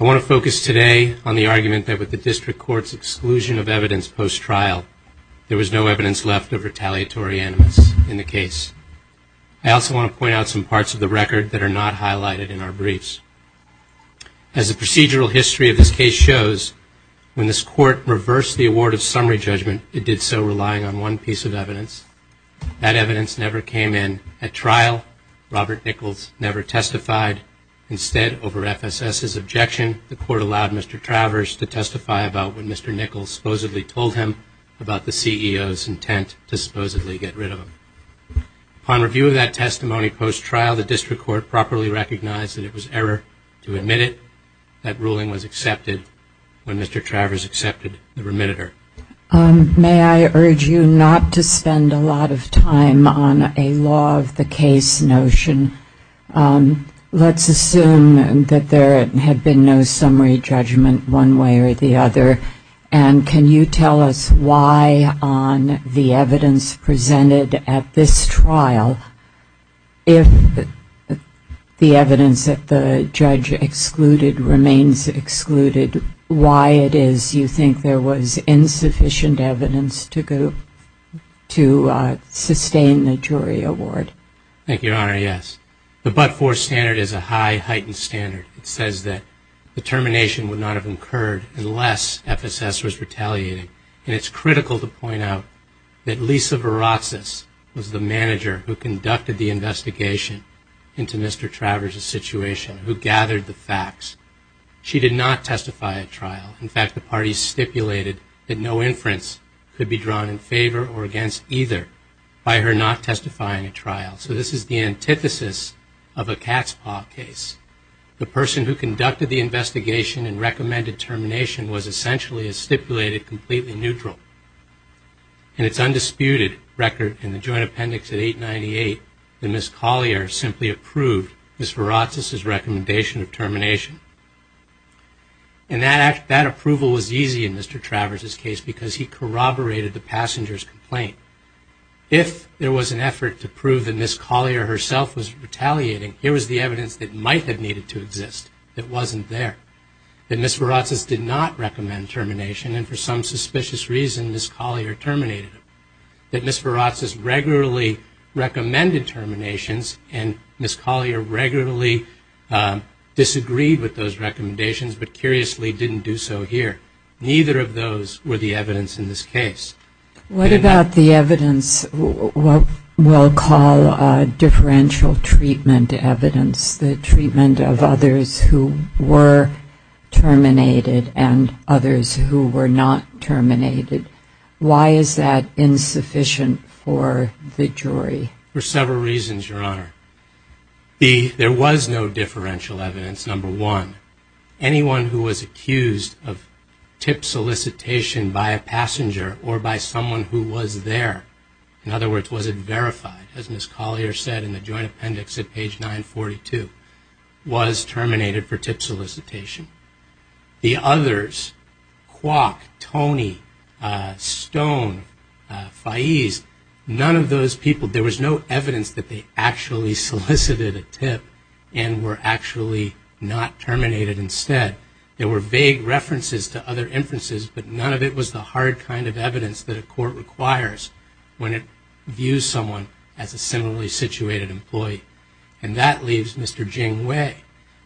I want to focus today on the argument that with the District Court's exclusion of evidence post-trial, there was no evidence left of retaliatory animus in the case. I also want to point out some parts of the record that are not highlighted in our briefs. As the procedural history of this case shows, when this Court reversed the award of summary judgment, it did so relying on one piece of evidence. That evidence never came in at trial. Robert over FSS's objection, the Court allowed Mr. Travers to testify about what Mr. Nichols supposedly told him about the CEO's intent to supposedly get rid of him. Upon review of that testimony post-trial, the District Court properly recognized that it was error to admit it. That ruling was accepted when Mr. Travers accepted the remitter. May I urge you not to spend a lot of time on a law-of-the-case notion. Let's assume that there had been no summary judgment one way or the other, and can you tell us why on the evidence presented at this trial, if the evidence that the judge excluded remains excluded, why it is you think there was insufficient evidence to sustain the jury award? Thank you, Your Honor, yes. The but-for standard is a high heightened standard. It says that the termination would not have occurred unless FSS was retaliating. And it's critical to point out that Lisa Varazis was the manager who conducted the investigation into Mr. Travers's situation, who gathered the facts. She did not testify at trial. In fact, the parties stipulated that no inference could be drawn in favor or against either by her not testifying at trial. So this is the antithesis of a cat's paw case. The person who conducted the investigation and recommended termination was essentially, as stipulated, completely neutral. And it's Ms. Varazis's recommendation of termination. And that approval was easy in Mr. Travers's case because he corroborated the passenger's complaint. If there was an effort to prove that Ms. Collier herself was retaliating, here was the evidence that might have needed to exist that wasn't there. That Ms. Varazis did not recommend termination, and for some suspicious reason, Ms. Collier terminated him. That Ms. Varazis regularly recommended terminations, and Ms. Collier regularly disagreed with those recommendations, but curiously didn't do so here. Neither of those were the evidence in this case. What about the evidence, what we'll call differential treatment evidence, the treatment of others who were terminated and others who were not terminated? Why is that insufficient for the jury? For several reasons, Your Honor. There was no differential evidence, number one. Anyone who was accused of tip solicitation by a passenger or by someone who was there, in other words, was it verified, as Ms. Collier said in the joint appendix at page 942, was terminated for tip solicitation. The others, Kwok, Tony, Stone, Faiz, none of those people, there was no evidence that they actually solicited a tip and were actually not terminated instead. There were vague references to other inferences, but none of it was the hard kind of evidence that a court requires when it views someone as a similarly situated employee. And that leaves Mr. Jing Wei.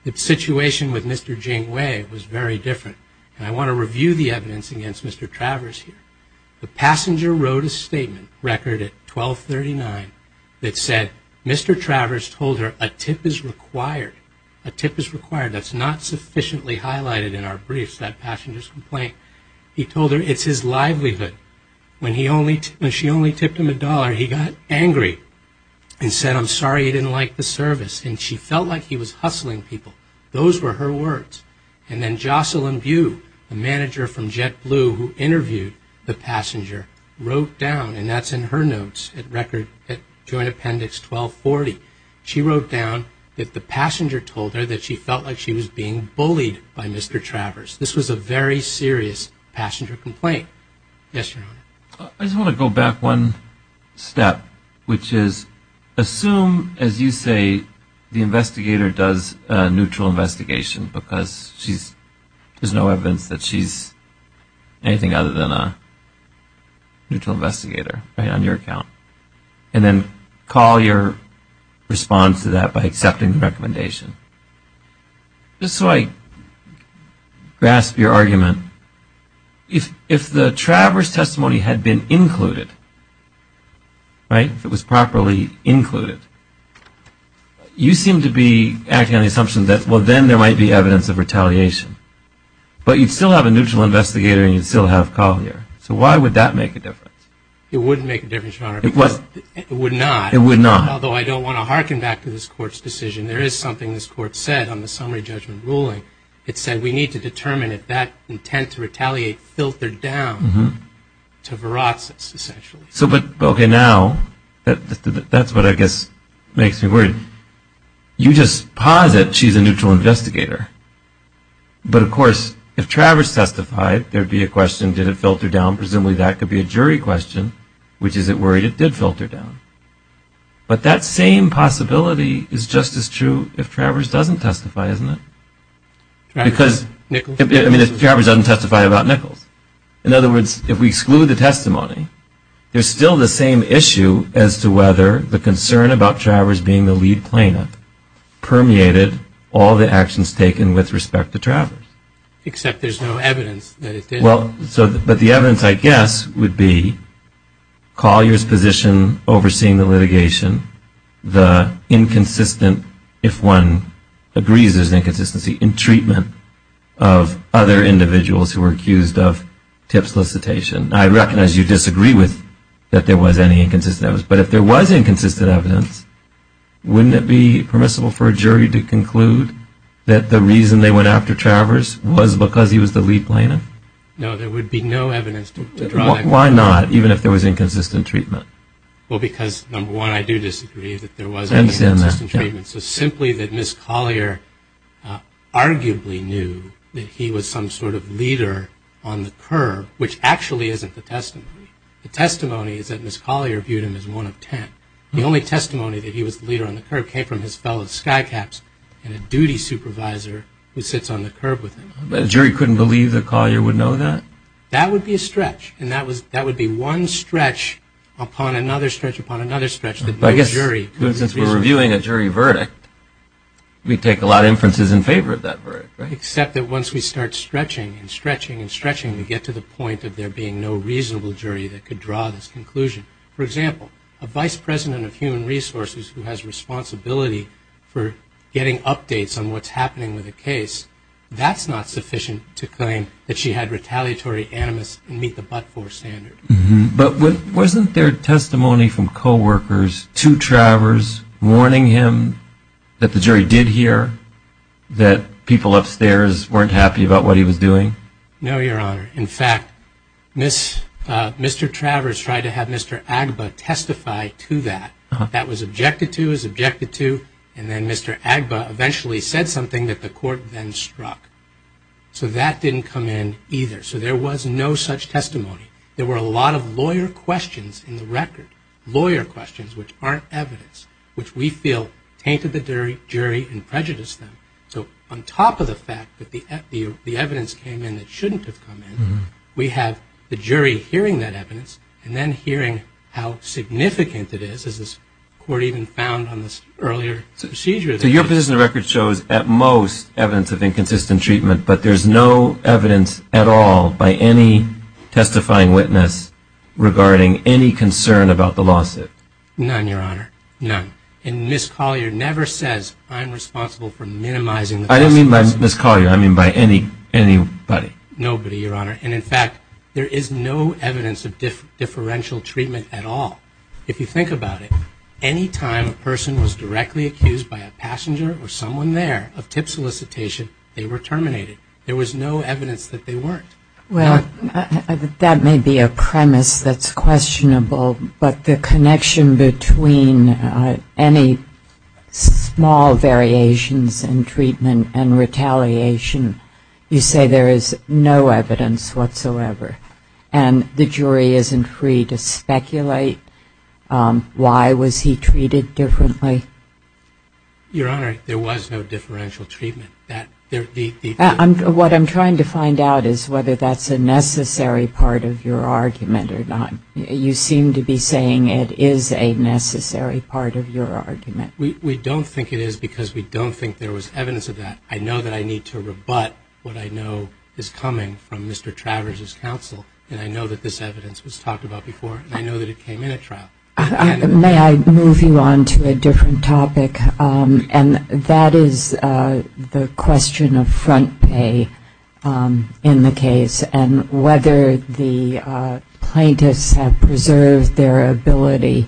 The situation with Mr. Jing Wei was very different, and I want to review the evidence against Mr. Travers here. The passenger wrote a statement, record at 1239, that said, Mr. Travers told her, a tip is required. A tip is required. That's not sufficiently highlighted in our briefs, that passenger's complaint. He told her, it's his livelihood. When she only tipped him a dollar, he got angry and said, I'm sorry you didn't like the service. And she felt like he was hustling people. Those were her words. And then Jocelyn Bew, the manager from JetBlue who interviewed the passenger, wrote down, and that's in her notes, record at Joint Appendix 1240, she wrote down that the passenger told her that she felt like she was being bullied by Mr. Travers. This was a very serious passenger complaint. Yes, Your Honor. I just want to go back one step, which is, assume, as you say, the investigator does a neutral investigation because there's no evidence that she's anything other than a neutral investigator, right, on your account. And then Collier responds to that by accepting the recommendation. Just so I grasp your argument, if the Travers testimony had been included, right, if it was properly included, you seem to be acting on the assumption that, well, then there might be evidence of retaliation. But you'd still have a neutral investigator and you'd still have Collier. So why would that make a difference? It wouldn't make a difference, Your Honor. It would not. It would not. Although I don't want to hearken back to this Court's decision. There is something this Court said on the summary judgment ruling. It said we need to determine if that intent to retaliate filtered down to viracious, essentially. So but, OK, now, that's what I guess makes me worried. You just posit she's a neutral investigator. But, of course, if Travers testified, there'd be a question, did it filter down? Presumably that could be a jury question, which is, is it worried it did filter down? But that same possibility is just as true if Travers doesn't testify, isn't it? Travers? Nichols? I mean, if Travers doesn't testify about Nichols. In other words, if we exclude the testimony, there's still the same issue as to whether the concern about Travers being the lead plaintiff permeated all the actions taken with respect to Travers. Except there's no evidence that it did. Well, so, but the evidence, I guess, would be Collier's position overseeing the litigation, the inconsistent, if one agrees there's an inconsistency, in treatment of other individuals who were accused of tip solicitation. I recognize you disagree with that there was any inconsistent evidence. But if there was inconsistent evidence, wouldn't it be permissible for a jury to conclude that the reason they went after Travers was because he was the lead plaintiff? No, there would be no evidence to draw that conclusion. Why not, even if there was inconsistent treatment? Well, because, number one, I do disagree that there was inconsistent treatment. So simply that Ms. Collier arguably knew that he was some sort of leader on the curve, which actually isn't the testimony. The testimony is that Ms. Collier viewed him as one of ten. The only testimony that he was the leader on the curve came from his fellow skycaps and a duty supervisor who sits on the curve with him. But a jury couldn't believe that Collier would know that? That would be a stretch. And that would be one stretch upon another stretch upon another stretch that no jury could. I guess, since we're reviewing a jury verdict, we take a lot of inferences in favor of that verdict, right? Except that once we start stretching and stretching and stretching, we get to the point of there being no reasonable jury that could draw this conclusion. For example, a vice president of human resources who has responsibility for getting updates on what's happening with a case, that's not sufficient to claim that she had retaliatory animus and meet the but-for standard. But wasn't there testimony from co-workers to Travers warning him that the jury did hear that people upstairs weren't happy about what he was doing? No, Your Honor. In fact, Mr. Travers tried to have Mr. Agba testify to that. That was objected to, is objected to, and then Mr. Agba eventually said something that the court then struck. So that didn't come in either. So there was no such testimony. There were a lot of lawyer questions in the record, lawyer questions which aren't evidence, which we feel tainted the jury and prejudiced them. So on top of the fact that the evidence came in that shouldn't have come in, we have the jury hearing that evidence and then hearing how significant it is, as this court even found on this earlier procedure. So your position in the record shows at most evidence of inconsistent treatment, but there's no evidence at all by any testifying witness regarding any concern about the lawsuit? None, Your Honor. None. And Ms. Collier never says, I'm responsible for minimizing the cost of the lawsuit. I didn't mean by Ms. Collier. I mean by anybody. Nobody, Your Honor. And in fact, there is no evidence of differential treatment at all. If you think about it, any time a person was directly accused by a passenger or someone there of tip solicitation, they were terminated. There was no evidence that they weren't. Well, that may be a premise that's questionable, but the connection between any small variations in treatment and retaliation, you say there is no evidence whatsoever. And the jury isn't free to speculate why was he treated differently? Your Honor, there was no differential treatment. What I'm trying to find out is whether that's a necessary part of your argument or not. You seem to be saying it is a necessary part of your argument. We don't think it is because we don't think there was evidence of that. I know that I need to rebut what I know is coming from Mr. Travers' counsel, and I know that this evidence was talked about before, and I know that it came in at trial. May I move you on to a different topic? And that is the question of front pay in the case and whether the plaintiffs have preserved their ability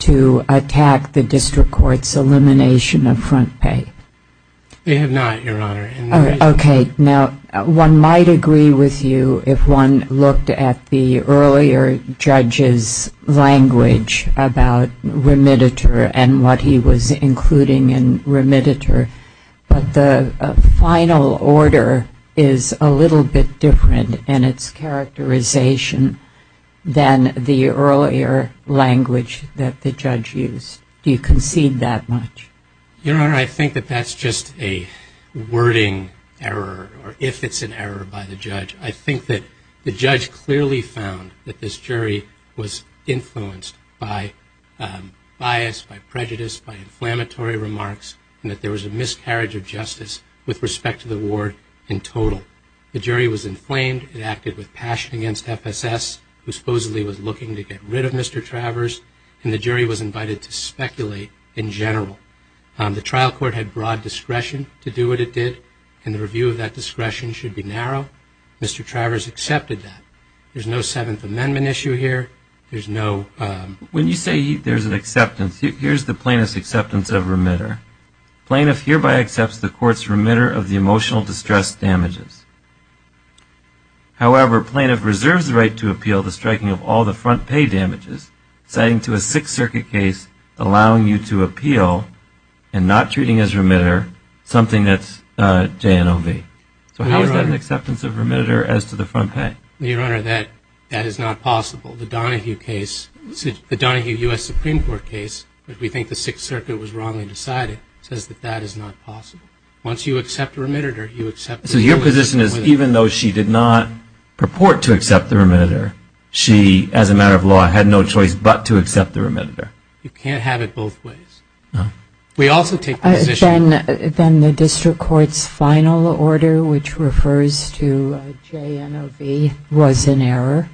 to attack the district court's elimination of front pay. They have not, Your Honor. Okay. Now, one might agree with you if one looked at the earlier judge's language about remititor and what he was including in remititor, but the final order is a little bit different in its characterization than the earlier language that the judge used. Do you concede that much? Your Honor, I think that that's just a wording error, or if it's an error by the judge. I think that the judge clearly found that this jury was influenced by bias, by prejudice, by inflammatory remarks, and that there was a miscarriage of justice with respect to the ward in total. The jury was inflamed. It acted with passion against FSS, who supposedly was looking to get rid of Mr. Travers, and the jury was invited to speculate in general. The trial court had broad discretion to do what it did, and the review of that discretion should be narrow. Mr. Travers accepted that. There's no Seventh Amendment issue here. There's no... When you say there's an acceptance, here's the plaintiff's acceptance of remittor. Plaintiff hereby accepts the court's remittor of the emotional distress damages. However, plaintiff reserves the right to appeal the striking of all the front pay damages citing to a Sixth Circuit case allowing you to appeal and not treating as remittor something that's JNOV. So how is that an acceptance of remittor as to the front pay? Your Honor, that is not possible. The Donahue case, the Donahue U.S. Supreme Court case, which we think the Sixth Circuit was wrongly decided, says that that is not possible. Once you accept a remittor, you accept the remittor. So your position is even though she did not purport to accept the remittor, she, as a matter of law, had no choice but to accept the remittor? You can't have it both ways. We also take the position... Then the district court's final order, which refers to JNOV, was an error?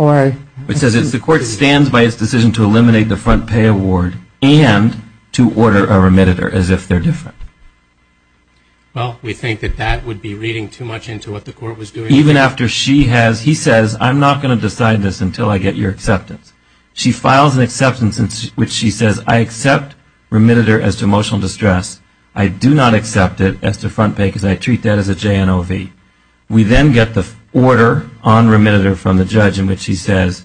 It says the court stands by its decision to eliminate the front pay award and to order a remittor as if they're different. Well, we think that that would be reading too much into what the court was doing. Even after she has, he says, I'm not going to decide this until I get your acceptance. She files an acceptance in which she says, I accept remittor as to emotional distress. I do not accept it as to front pay because I treat that as a JNOV. We then get the order on remittor from the judge in which he says,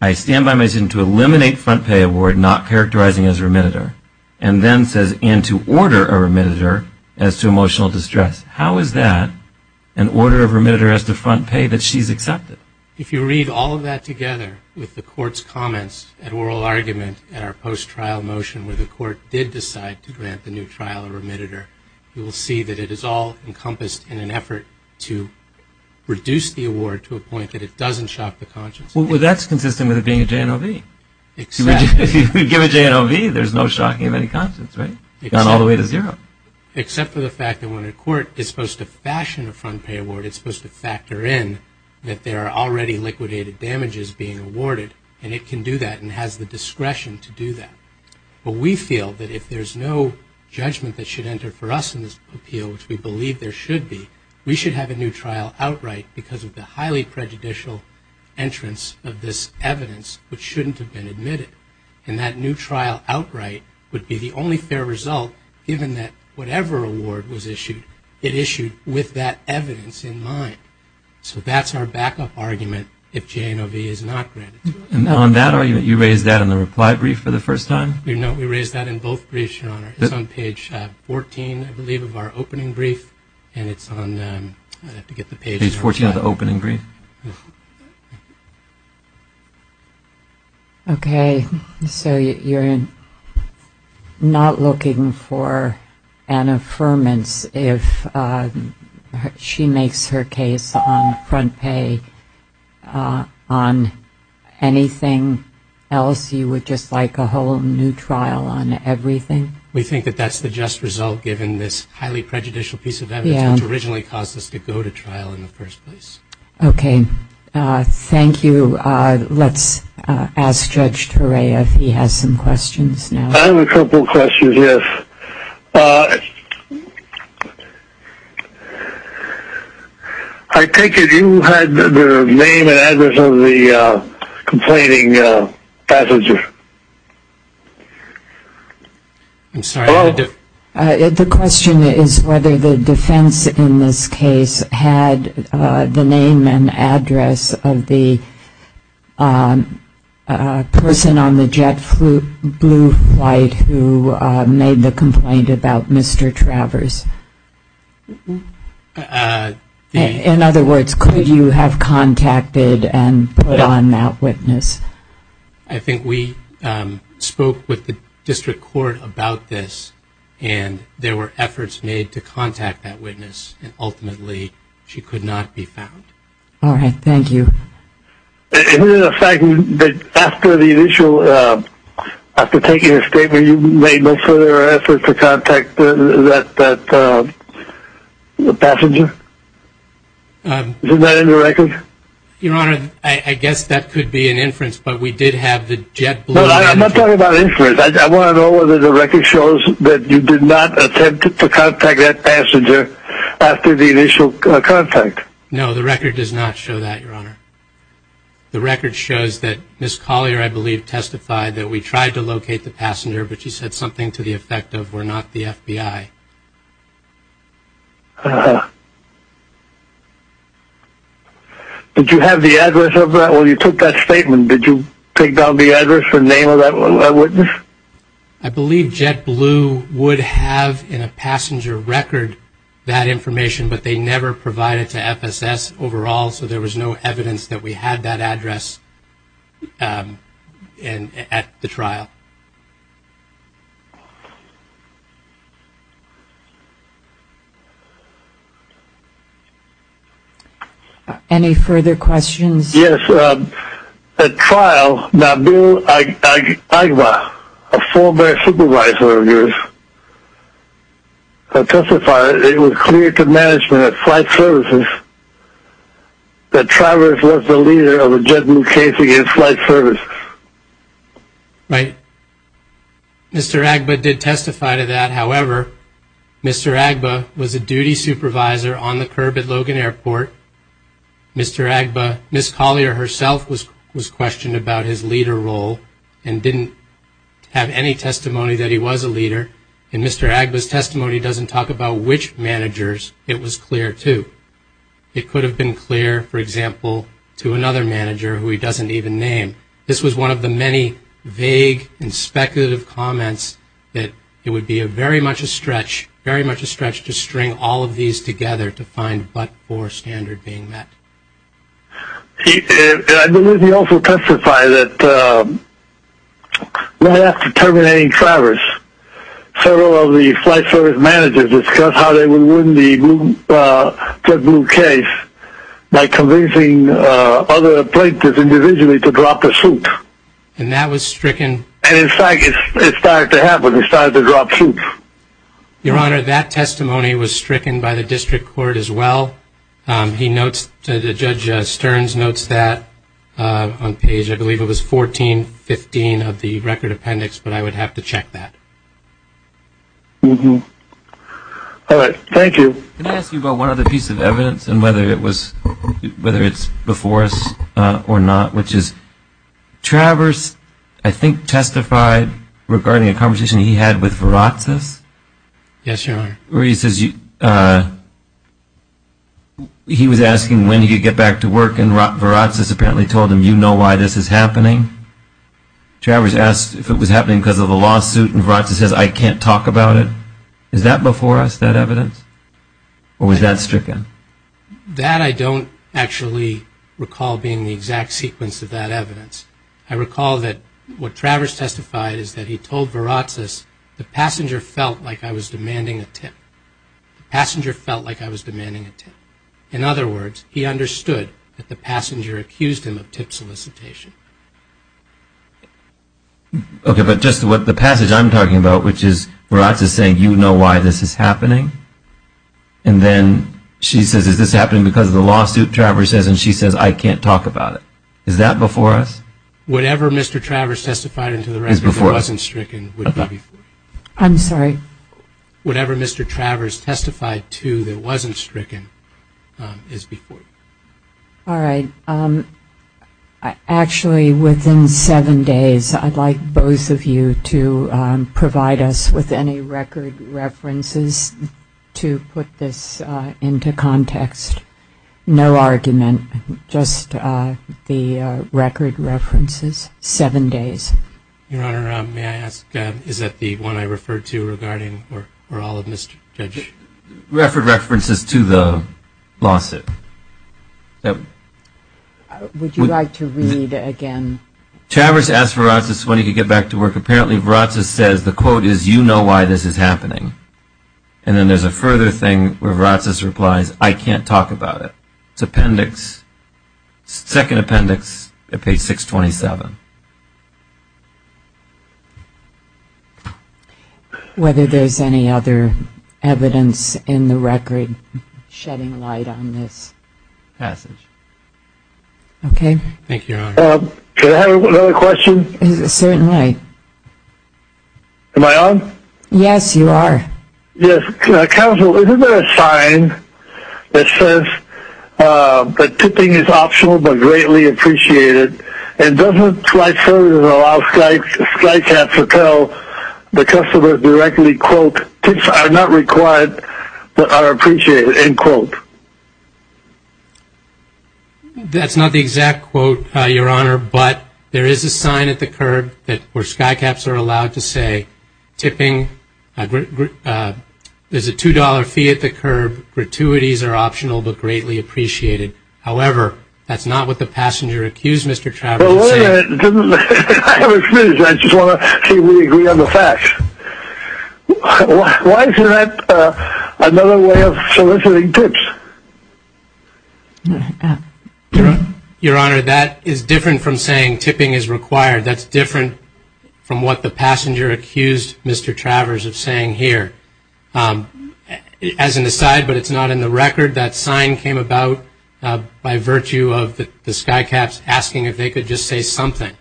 I stand by my decision to eliminate front pay award, not characterizing as remittor, and then says, and to order a remittor as to emotional distress. How is that an order of remittor as to front pay that she's accepted? If you read all of that together with the court's comments and oral argument at our post-trial motion where the court did decide to grant the new trial a remittor, you will see that it is all encompassed in an effort to reduce the award to a point that it doesn't shock the conscience. That's consistent with it being a JNOV. If you give a JNOV, there's no shocking of any conscience, gone all the way to zero. Except for the fact that when a court is supposed to fashion a front pay award, it's supposed to factor in that there are already liquidated damages being awarded, and it can do that and has the discretion to do that. But we feel that if there's no judgment that should enter for us in this appeal, which we believe there should be, we should have a new trial outright because of the highly prejudicial entrance of this evidence which shouldn't have been admitted, and that new trial outright would be the only fair result given that whatever award was issued, it issued with that evidence in mind. So that's our backup argument if JNOV is not granted to us. And on that argument, you raised that in the reply brief for the first time? No, we raised that in both briefs, Your Honor. It's on page 14, I believe, of our opening brief, and it's on, I'd have to get the page number. Page 14 of the opening brief? Okay, so you're not looking for an affirmance if she makes her case on front pay on anything else? You would just like a whole new trial on everything? We think that that's the just result given this highly prejudicial piece of evidence which originally caused us to go to trial in the first place. Okay, thank you. Let's ask Judge Toray if he has some questions now. I have a couple questions, yes. I take it you had the name and address of the complaining passenger? The question is whether the defense in this case had the name and address of the person on the jet blue flight who made the complaint about Mr. Travers. In other words, could you have contacted and put on that witness? I think we spoke with the district court about this, and there were efforts made to contact that witness, and ultimately, she could not be found. All right, thank you. Is it a fact that after the initial, after taking a statement, you made no further effort to contact that passenger? Is that in the record? Your Honor, I guess that could be an inference, but we did have the jet blue... No, I'm not talking about inference. I want to know whether the record shows that you did not attempt to contact that passenger after the initial contact. No, the record does not show that, Your Honor. The record shows that Ms. Collier, I believe, testified that we tried to locate the passenger, but she said something to the effect of, we're not the FBI. Uh-huh. Did you have the address of that? Well, you took that statement. Did you take down the address or name of that witness? I believe jet blue would have in a passenger record that information, but they never provided to FSS overall, so there was no evidence that we had that address at the trial. Uh-huh. Any further questions? Yes. At trial, Nabil Agba, a former supervisor of yours, testified that it was clear to management of flight services that Travers was the leader of the jet blue case against flight services. Right. Mr. Agba did testify to that. However, Mr. Agba was a duty supervisor on the curb at Logan Airport. Mr. Agba, Ms. Collier herself was questioned about his leader role and didn't have any testimony that he was a leader, and Mr. Agba's testimony doesn't talk about which managers it was clear to. It could have been clear, for example, to another manager who he doesn't even name. This was one of the many vague and speculative comments that it would be very much a stretch, very much a stretch to string all of these together to find what core standard being met. I believe he also testified that right after terminating Travers, several of the flight service managers discussed how they would win the jet blue case by convincing other plaintiffs individually to drop the suit. And that was stricken? And in fact, it started to happen. They started to drop suits. Your Honor, that testimony was stricken by the district court as well. He notes, Judge Stearns notes that on page, I believe it was 1415 of the record appendix, but I would have to check that. All right. Thank you. Can I ask you about one other piece of evidence and whether it's before us or not, which is Travers, I think, testified regarding a conversation he had with Viratsis? Yes, Your Honor. Where he says he was asking when he would get back to work and Viratsis apparently told him, you know why this is happening. Travers asked if it was happening because of a lawsuit and Viratsis says, I can't talk about it. Is that before us, that evidence? Or was that stricken? That I don't actually recall being the exact sequence of that evidence. I recall that what Travers testified is that he told Viratsis, the passenger felt like I was demanding a tip. The passenger felt like I was demanding a tip. In other words, he understood that the passenger accused him of tip solicitation. Okay, but just what the passage I'm talking about, which is Viratsis saying, you know why this is happening, and then she says, is this happening because of the lawsuit Travers says, and she says, I can't talk about it. Is that before us? Whatever Mr. Travers testified to that wasn't stricken is before you. I'm sorry? Whatever Mr. Travers testified to that wasn't stricken is before you. All right. Actually, within seven days, I'd like both of you to provide us with any record references to put this into context. No argument. Just the record references. Seven days. Your Honor, may I ask, is that the one I referred to regarding or all of Mr. Judge? Record references to the lawsuit. Would you like to read again? Travers asked Viratsis when he could get back to work. Apparently, Viratsis says, the quote is, you know why this is happening. And then there's a further thing where Viratsis replies, I can't talk about it. It's appendix, second appendix at page 627. Whether there's any other evidence in the record shedding light on this? Passage. Thank you, Your Honor. Can I have another question? Certainly. Am I on? Yes, you are. Counsel, isn't there a sign that says that tipping is optional but greatly appreciated and doesn't slide further to allow SKYCAPS to tell the customer directly, quote, tips are not required but are appreciated, end quote? That's not the exact quote, Your Honor, but there is a sign at the curb where SKYCAPS are allowed to say tipping, there's a $2 fee at the curb, gratuities are optional but greatly appreciated. However, that's not what the passenger accused Mr. Travers of saying. I just want to see if we agree on the facts. Why is that another way of soliciting tips? Your Honor, that is different from saying tipping is required. That's different from what the passenger accused Mr. Travers of saying here. As an aside, but it's not in the record, that sign came about by virtue of the SKYCAPS asking if they could just say something,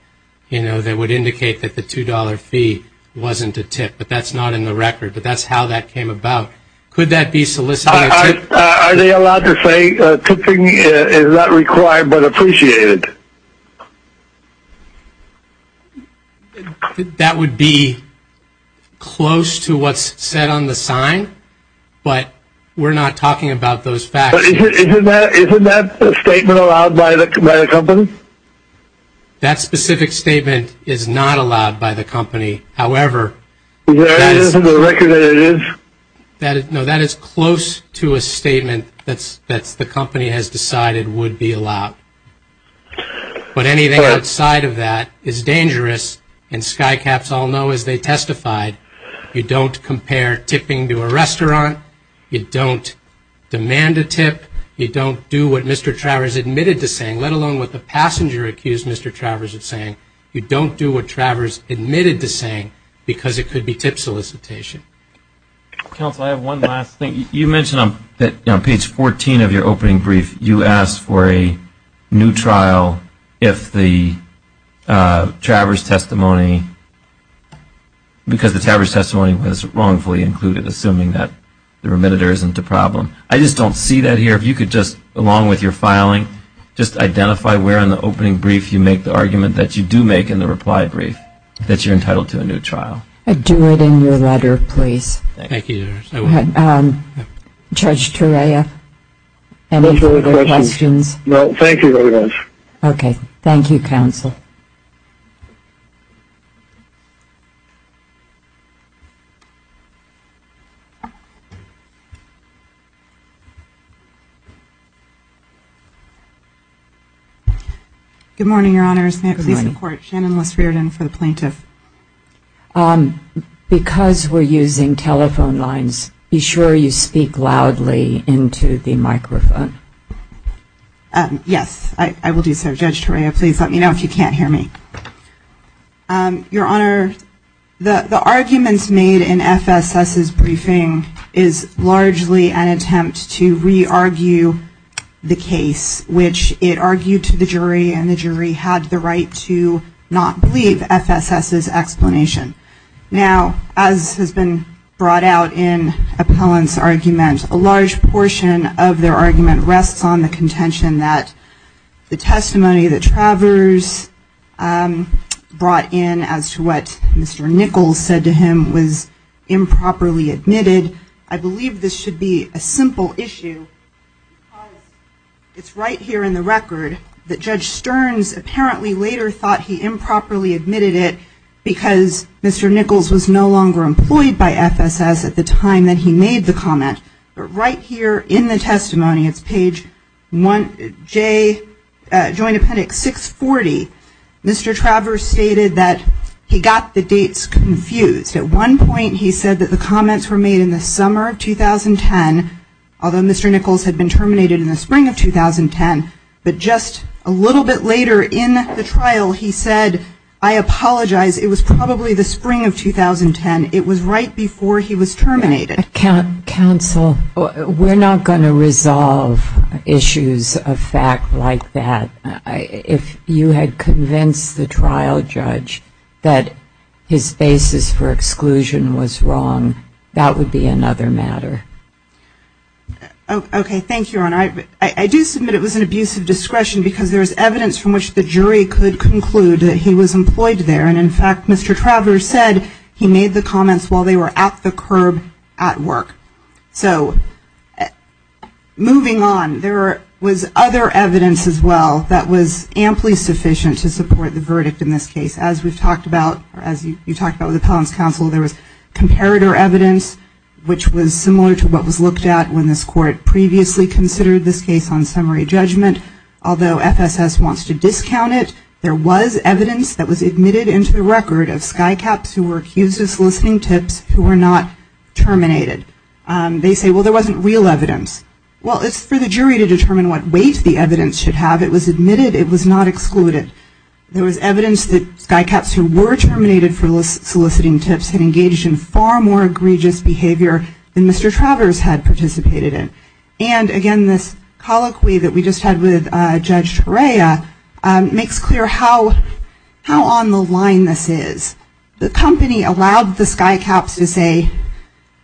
you know, that would indicate that the $2 fee wasn't a tip, but that's not in the record, but that's how that came about. Could that be soliciting a tip? Are they allowed to say tipping is not required but appreciated? That would be close to what's said on the sign, but we're not talking about those facts. Isn't that a statement allowed by the company? That specific statement is not allowed by the company. However, that is close to a statement that the company has decided would be allowed. But anything outside of that is dangerous, and SKYCAPS all know as they testified, you don't compare tipping to a restaurant, you don't demand a tip, you don't do what Mr. Travers admitted to saying, let alone what the passenger accused Mr. Travers of saying. You don't do what Travers admitted to saying because it could be tip solicitation. Counsel, I have one last thing. You mentioned on page 14 of your opening brief, you asked for a new trial if the Travers testimony, because the Travers testimony was wrongfully included, assuming that the remitter isn't the problem. I just don't see that here. If you could just, along with your filing, just identify where in the opening brief you make the argument that you do make in the reply brief that you're entitled to a new trial. Do it in your letter, please. Thank you, Judge. Judge Turea, any further questions? No, thank you very much. Okay, thank you, Counsel. Good morning, Your Honors. May it please the Court. Shannon Liss-Riordan for the Plaintiff. Because we're using telephone lines, be sure you speak loudly into the microphone. Yes, I will do so. Judge Turea, please let me know if you can't hear me. Your Honor, the arguments made in FSS's briefing is largely an attempt to re-argue the case, which it argued to the jury, and the jury had the right to not believe FSS's brief. Now, as has been brought out in Appellant's argument, a large portion of their argument rests on the contention that the testimony that Travers brought in as to what Mr. Nichols said to him was improperly admitted. I believe this should be a simple issue because it's right here in the record that Judge Stearns apparently later thought he improperly admitted it because Mr. Nichols was no longer employed by FSS at the time that he made the comment. But right here in the testimony, it's page 1J, Joint Appendix 640, Mr. Travers stated that he got the dates confused. At one point, he said that the comments were made in the summer of 2010, although Mr. Nichols had been terminated in the spring of 2010. But just a little bit later in the trial, he said, I apologize, it was probably the spring of 2010. It was right before he was terminated. Counsel, we're not going to resolve issues of fact like that. If you had convinced the trial judge that his basis for exclusion was wrong, that would be another matter. Okay, thank you, Your Honor. I do submit it was an abuse of discretion because there is evidence from which the jury could conclude that he was employed there. And in fact, Mr. Travers said he made the comments while they were at the curb at work. So, moving on, there was other evidence as well that was amply sufficient to support the verdict in this case. As we've talked about, or as you talked about with Appellant's Counsel, there was comparator evidence, which was similar to what was looked at when this court previously considered this case on summary judgment. Although FSS wants to discount it, there was evidence that was admitted into the record of skycaps who were accused of soliciting tips who were not terminated. They say, well, there wasn't real evidence. Well, it's for the jury to determine what weight the evidence should have. It was admitted, it was not excluded. There was evidence that skycaps who were terminated for soliciting tips had engaged in far more egregious behavior than Mr. Travers had participated in. And again, this colloquy that we just had with Judge Torea makes clear how on the line this is. The company allowed the skycaps to say,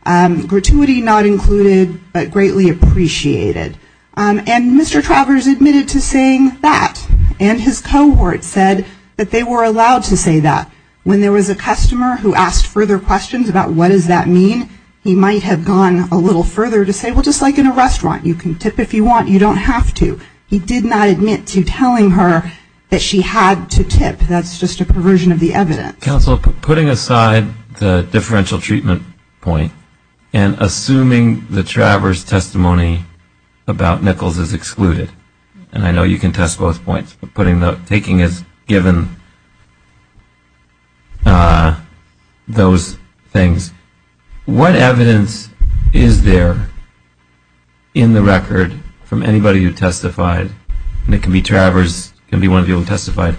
gratuity not included, but greatly appreciated. And Mr. Travers admitted to saying that. And his cohort said that they were allowed to say that. When there was a customer who asked further questions about what does that mean, he might have gone a little further to say, well, just like in a restaurant, you can tip if you want, you don't have to. He did not admit to telling her that she had to tip. That's just a perversion of the evidence. Counsel, putting aside the differential treatment point and assuming the Travers testimony about Nichols is excluded, and I know you can test both points, but taking as given those things, what evidence is there in the record from anybody who testified, and it can be Travers, it can be one of you who testified,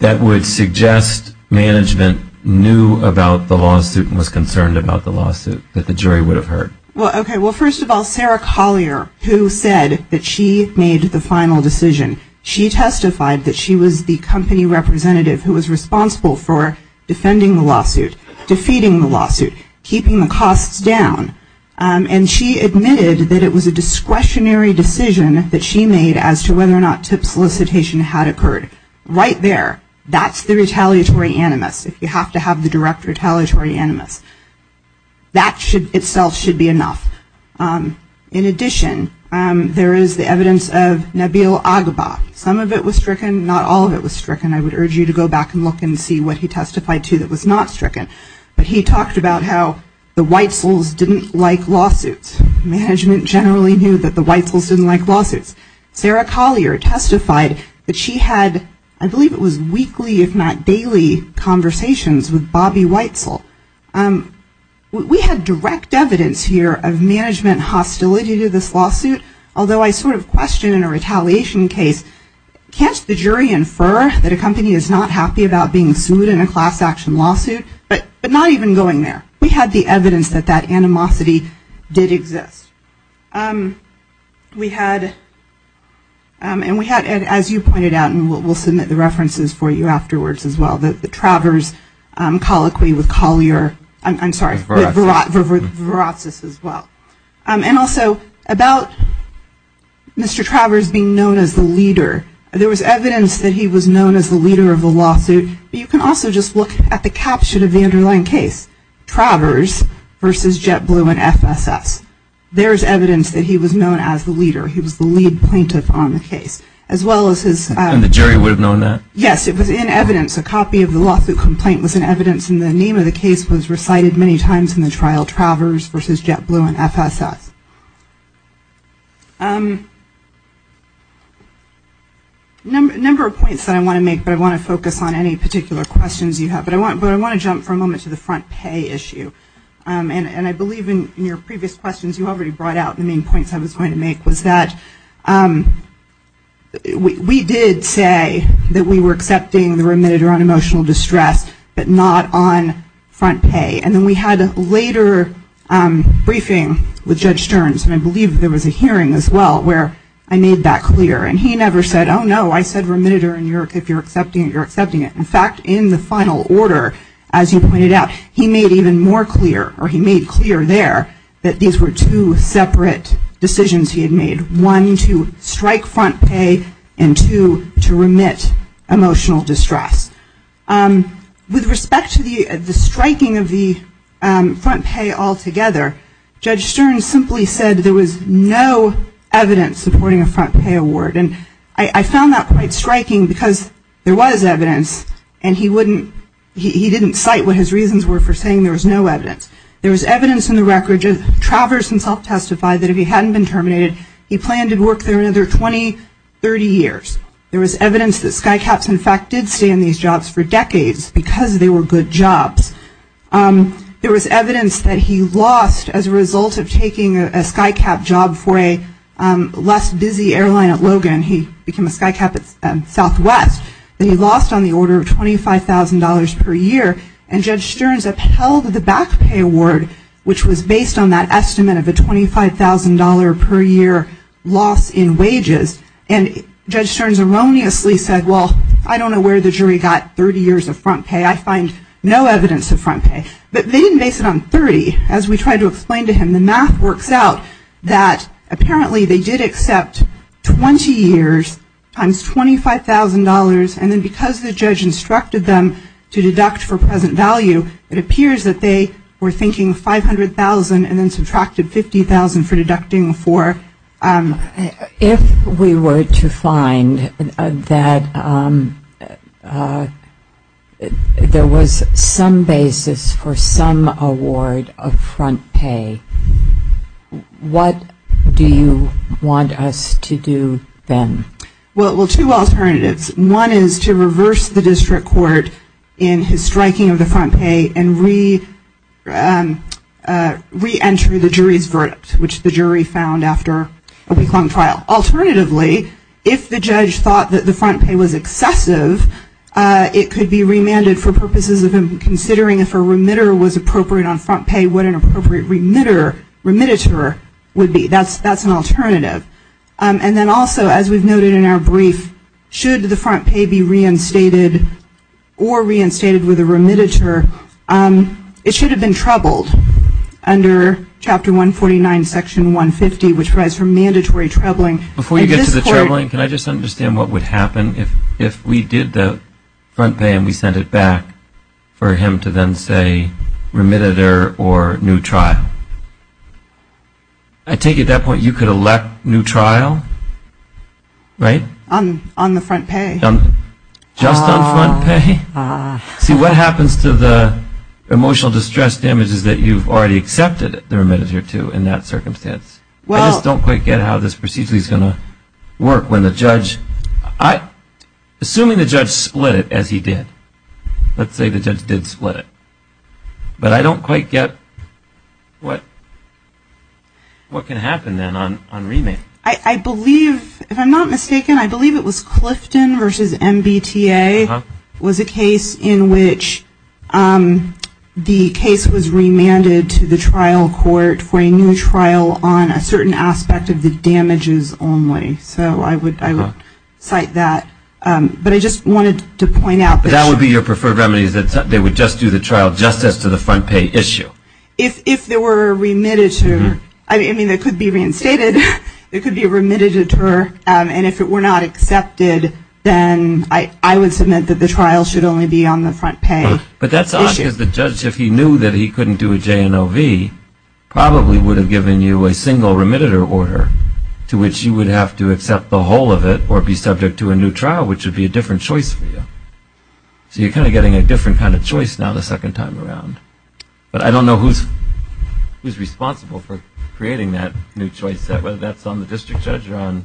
that would suggest management knew about the lawsuit and was concerned about the lawsuit, that the jury would have heard? Well, first of all, Sarah Collier, who said that she made the final decision, she testified that she was the company representative who was responsible for defending the lawsuit, defeating the lawsuit, keeping the costs down, and she admitted that it was a discretionary decision that she made as to whether or not tip solicitation had occurred. Right there, that's the retaliatory animus, if you have to have the direct retaliatory animus. That itself should be enough. In addition, there is the evidence of Nabil Agba. Some of it was stricken, not all of it was stricken. I would urge you to go back and look and see what he testified to that was not stricken. But he talked about how the Whitesells didn't like lawsuits. Management generally knew that the Whitesells didn't like lawsuits. Sarah Collier testified that she had, I believe it was weekly, if not daily, conversations with Bobby Whitesell. We had direct evidence here of management hostility to this lawsuit, although I sort of question in a retaliation case, can't the jury infer that a company is not happy about being sued in a class action lawsuit? But not even going there. We had the evidence that that animosity did exist. We had, as you pointed out, and we'll submit the references for you afterwards as well, the Travers colloquy with Collier, I'm sorry, with Viratsis as well. And also, about Mr. Travers being known as the leader, there was evidence that he was known as the leader of the lawsuit. You can also just look at the caption of the underlying case, Travers versus JetBlue and FSS. There's evidence that he was known as the leader. He was the lead plaintiff on the case. As well as his... And the jury would have known that? Yes, it was in evidence. A copy of the lawsuit complaint was in evidence and the name of the case was recited many times in the trial, Travers versus JetBlue and FSS. A number of points that I want to make, but I want to focus on any particular questions you have. But I want to jump for a moment to the front pay issue. And I believe in your previous questions, you already brought out the main points I was going to make was that we did say that we were accepting the remitter on emotional distress, but not on front pay. And then we had a later briefing with Judge Stearns and I believe there was a hearing as well where I made that clear. And he never said, oh no, I said remitter and if you're accepting it, you're accepting it. In fact, in the final order, as you pointed out, he made even more clear or he made clear there that these were two separate decisions he had made. One, to strike front pay and two, to remit emotional distress. With respect to the striking of the front pay altogether, Judge Stearns simply said there was no evidence supporting a front pay award. And I found that quite striking because there was evidence and he wouldn't he didn't cite what his reasons were for saying there was no evidence. There was evidence in the record, Travers himself testified that if he hadn't been terminated, he planned to work there another 20, 30 years. There was evidence that skycaps in fact did stay in these jobs for decades because they were good jobs. There was evidence that he lost as a result of taking a skycap job for a less busy airline at Logan. He became a skycap at Southwest. He lost on the order of $25,000 per year and Judge Stearns upheld the back pay award, which was based on that estimate of a $25,000 per year loss in wages. And Judge Stearns erroneously said, well, I don't know where the jury got 30 years of front pay. I find no evidence of front pay. But they didn't base it on 30. As we tried to explain to him, the math works out that apparently they did accept 20 years times $25,000 and then because the judge instructed them to deduct for present value, it appears that they were thinking $500,000 and then subtracted $50,000 for deducting for... If we were to find that there was some basis for some award of front pay, what do you want us to do then? Well, two alternatives. One is to reverse the district court in his striking of the re-enter the jury's verdict, which the jury found after a week-long trial. Alternatively, if the judge thought that the front pay was excessive, it could be remanded for purposes of considering if a remitter was appropriate on front pay, what an appropriate remitter would be. That's an alternative. And then also, as we've noted in our brief, should the front pay be reinstated or reinstated with a remitter, it should have been troubled under chapter 149 section 150, which provides for mandatory troubling. Before you get to the troubling, can I just understand what would happen if we did the front pay and we sent it back for him to then say remitter or new trial? I take it at that point you could elect new trial? Right? On the front pay. Just on front pay? See, what happens to the emotional distress damages that you've already accepted the remitter to in that circumstance? I just don't quite get how this procedure is going to work when the judge assuming the judge split it as he did let's say the judge did split it but I don't quite get what can happen then on remand? I believe, if I'm not mistaken, I believe it was Clifton versus MBTA was a case in which the case was remanded to the trial court for a new trial on a certain aspect of the damages only, so I would cite that, but I just wanted to point out that that would be your preferred remedy, that they would just do the trial just as to the front pay issue? If there were a remitter I mean, it could be reinstated it could be a remitted deter and if it were not accepted then I would submit that the trial should only be on the front pay But that's odd because the judge, if he knew that he couldn't do a J&OV probably would have given you a single remitter order to which you would have to accept the whole of it or be subject to a new trial, which would be a different choice for you so you're kind of getting a different kind of choice now the second time around, but I don't know who's responsible for creating that new choice whether that's on the district judge or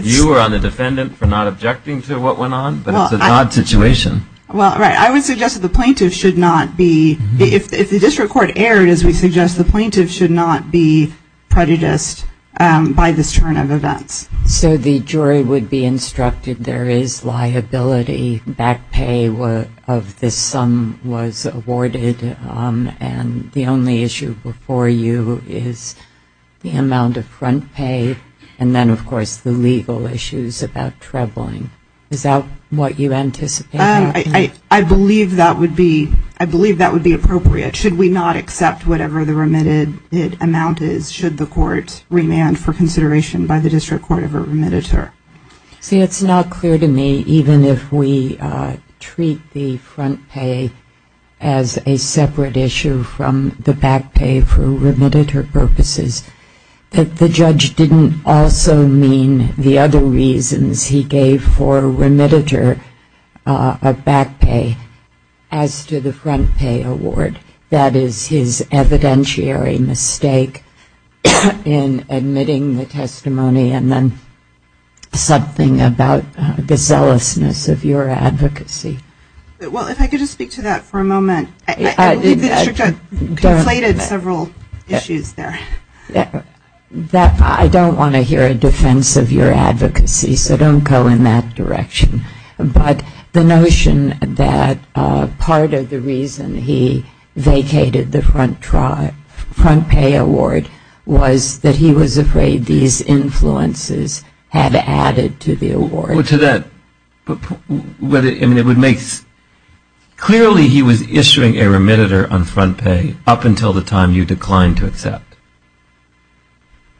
you or on the defendant for not objecting to what went on but it's an odd situation I would suggest that the plaintiff should not be if the district court erred as we suggest, the plaintiff should not be prejudiced by this turn of events So the jury would be instructed there is liability back pay of this sum was awarded and the only issue before you is the amount of front pay and then of course the legal issues about traveling is that what you anticipated? I believe that would be appropriate, should we not accept whatever the remitted amount is, should the court remand for consideration by the district court of a remitter See it's not clear to me, even if we treat the front pay as a separate issue from the back pay for remitter purposes that the judge didn't also mean the other reasons he gave for remitter of back pay as to the front pay award, that is his evidentiary mistake in admitting the testimony and then something about the zealousness of your advocacy Well if I could just speak to that for a moment I believe the district court conflated several issues there I don't want to hear a defense of your advocacy so don't go in that direction but the notion that part of the reason he vacated the front pay award was that he was afraid these influences had added to the award To that I mean it would make clearly he was issuing a remitter on front pay up until the time you declined to accept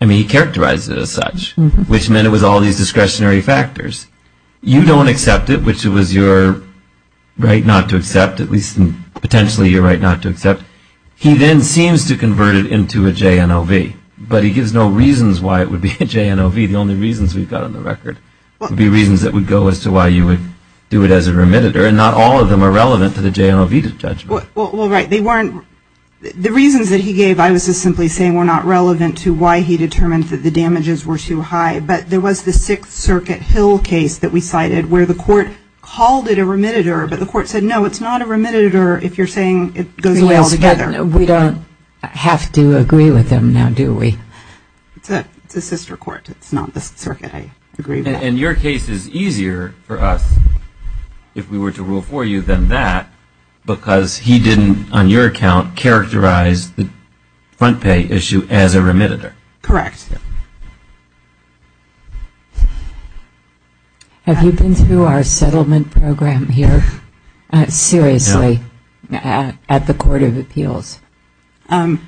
I mean he characterized it as such which meant it was all these discretionary factors you don't accept it which was your right not to accept at least potentially your right not to accept he then seems to convert it into a JNOV but he gives no reasons why it would be a JNOV the only reasons we've got on the record would be reasons that would go as to why you would do it as a remitter and not all of them are relevant to the JNOV well right the reasons that he gave I was just simply saying were not relevant to why he determined that the damages were too high but there was the 6th circuit hill case that we cited where the court called it a remitter but the court said no it's not a remitter if you're saying it goes well together we don't have to agree with him now do we it's a sister court it's not the circuit and your case is easier for us if we were to rule for you than that because he didn't on your account characterize the front pay issue as a remitter correct have you been through our settlement program here seriously at the court of appeals not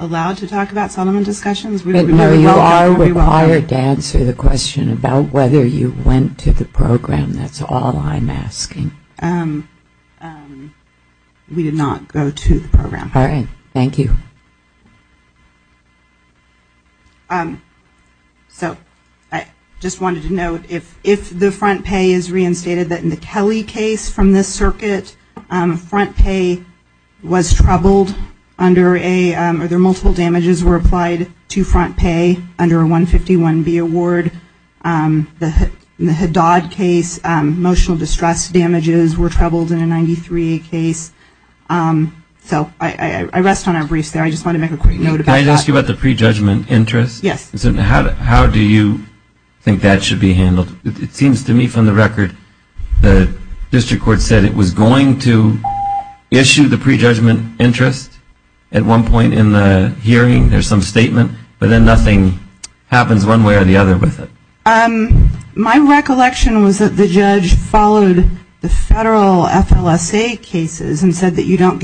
allowed to talk about settlement discussions you are required to answer the question about whether you went to the program that's all I'm asking um we did not go to the program alright thank you um so I just wanted to note if the front pay is reinstated in the Kelly case from this circuit front pay was troubled multiple damages were applied to front pay under a 151B award the Haddad case emotional distress damages were troubled in a 93 case I rest on our briefs I just wanted to make a quick note can I ask you about the prejudgment interest how do you think that should be handled it seems to me from the record the district court said it was going to issue the prejudgment interest at one point in the hearing there's some statement but then nothing happens one way or the other with it my recollection was that the judge followed the federal FLSA cases and said that you don't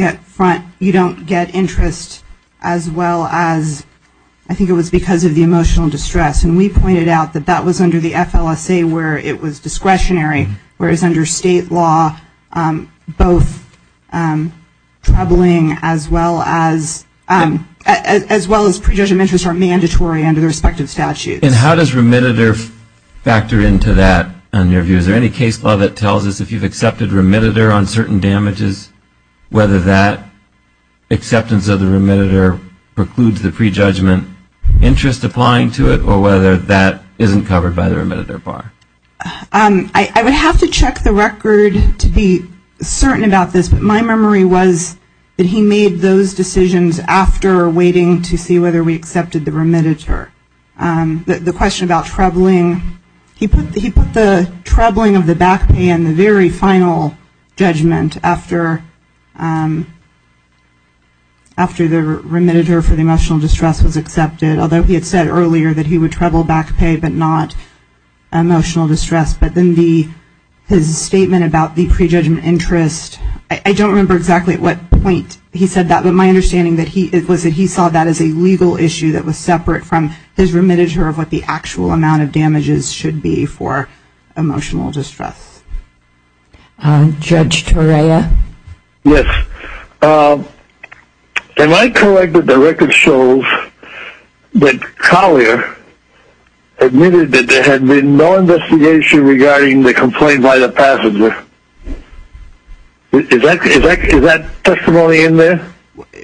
get interest as well as I think it was because of the emotional distress and we pointed out that that was under the FLSA where it was discretionary whereas under state law both troubling as well as prejudgment interests are mandatory under the respective statutes and how does remittitor factor into that is there any case law that tells us if you've accepted remittitor on certain damages whether that acceptance of the remittitor precludes the prejudgment interest applying to it or whether that isn't covered by the remittitor bar I would have to look at the record to be certain about this but my memory was that he made those decisions after waiting to see whether we accepted the remittitor the question about troubling he put the troubling of the back pay in the very final judgment after after the remittitor for the emotional distress was accepted although he had said earlier that he would trouble back pay but not his statement about the prejudgment interest I don't remember exactly at what point he said that but my understanding was that he saw that as a legal issue that was separate from his remittitor of what the actual amount of damages should be for emotional distress Judge Torea yes when I collected the record shows that Collier admitted that there had been no investigation regarding the complaint by the passenger is that testimony in there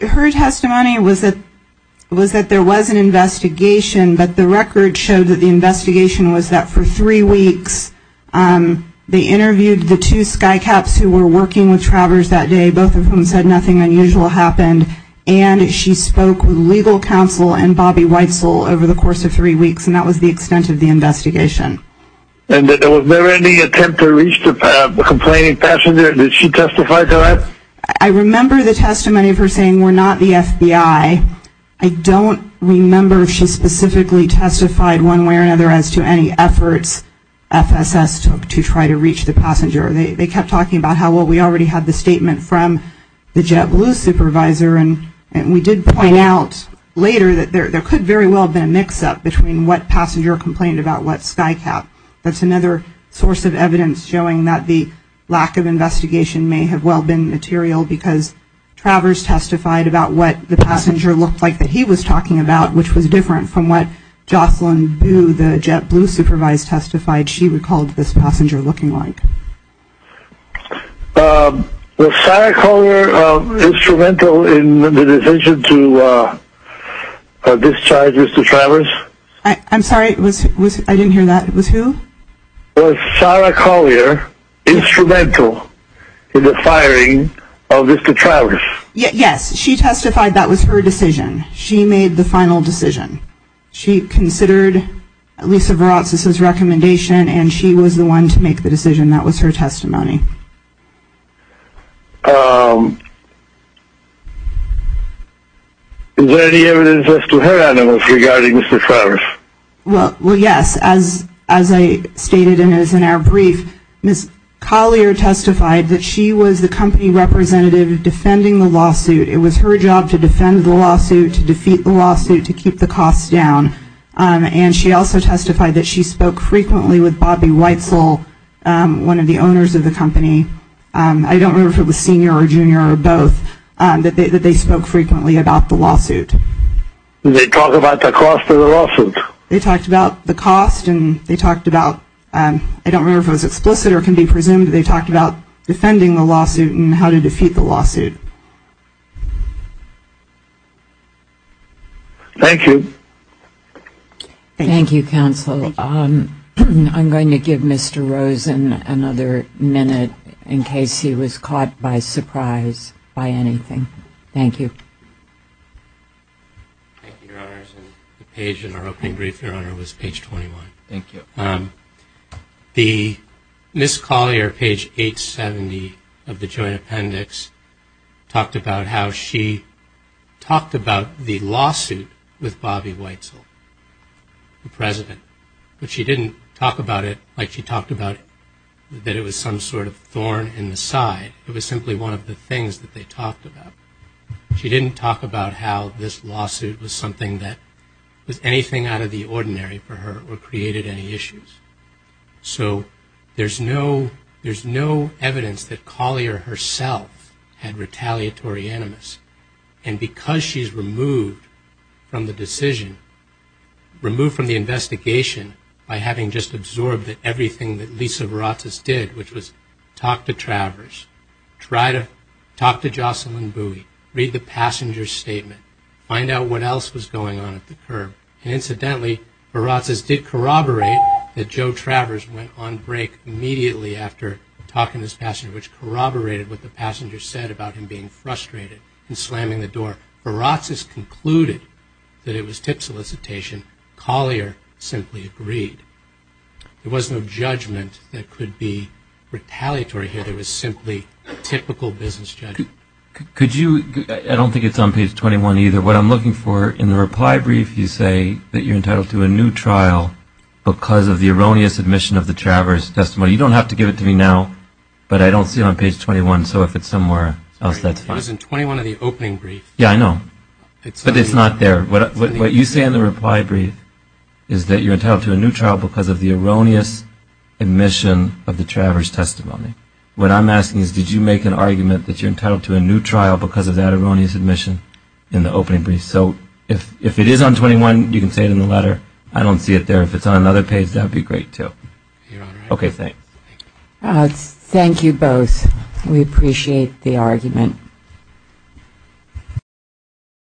her testimony was that there was an investigation but the record showed that the investigation was that for three weeks they interviewed the two skycaps who were working with Travers that day both of whom said nothing unusual happened and she spoke with legal counsel and Bobby Weitzel over the course of three weeks and that was the extent of the investigation and was there any attempt to reach the complaining passenger did she testify to that I remember the testimony of her saying we're not the FBI I don't remember if she specifically testified one way or another as to any efforts FSS took to try to reach the passenger they kept talking about how well we already had the statement from the JetBlue supervisor and we did point out later that there was no record of what passenger complained about what skycap that's another source of evidence showing that the lack of investigation may have well been material because Travers testified about what the passenger looked like that he was talking about which was different from what Jocelyn Boo, the JetBlue supervisor testified she recalled this passenger looking like Was Sarah Collier instrumental in the decision to discharge Mr. Travers I'm sorry, I didn't hear that was who? Was Sarah Collier instrumental in the firing of Mr. Travers Yes, she testified that was her decision she made the final decision she considered Lisa Veratsis' recommendation and she was the one to make the decision that was her testimony um Is there any evidence left to her regarding Mr. Travers Well, yes as I stated in our brief Ms. Collier testified that she was the company representative defending the lawsuit it was her job to defend the lawsuit to defeat the lawsuit, to keep the costs down and she also testified that she spoke frequently with Bobby Weitzel, one of the owners of the company I don't remember if it was senior or junior or both that they spoke frequently about the lawsuit They talked about the cost of the lawsuit They talked about the cost and they talked about I don't remember if it was explicit or can be presumed they talked about defending the lawsuit and how to defeat the lawsuit Thank you Thank you counsel I'm going to give Mr. Rosen another minute in case he was caught by surprise by anything Thank you Page in our opening brief was page 21 Thank you Ms. Collier page 870 of the joint appendix talked about how she talked about the lawsuit with Bobby Weitzel the president but she didn't talk about it like she talked about that it was some sort of thorn in the side it was simply one of the things that they talked about she didn't talk about how this lawsuit was something that was anything out of the ordinary for her or created any issues so there's no evidence that Collier herself had retaliatory animus and because she's removed from the decision removed from the investigation by having just absorbed everything that Lisa Baratsas did which was talk to Travers try to talk to Jocelyn Bowie, read the passenger's statement find out what else was going on at the curb and incidentally Baratsas did corroborate that Joe Travers went on break immediately after talking to this passenger which corroborated what the passenger said about him being frustrated and slamming the door Baratsas concluded that it was tip solicitation Collier simply agreed there was no judgment that could be retaliatory here there was simply typical business judgment I don't think it's on page 21 either what I'm looking for in the reply brief you say that you're entitled to a new trial because of the erroneous admission of the Travers testimony you don't have to give it to me now but I don't see it on page 21 it was in 21 of the opening brief yeah I know but it's not there what you say in the reply brief is that you're entitled to a new trial because of the erroneous admission of the Travers testimony what I'm asking is did you make an argument that you're entitled to a new trial because of that erroneous admission in the opening brief so if it is on 21 you can say it in the letter I don't see it there if it's on another page that would be great too your honor thank you both we appreciate the argument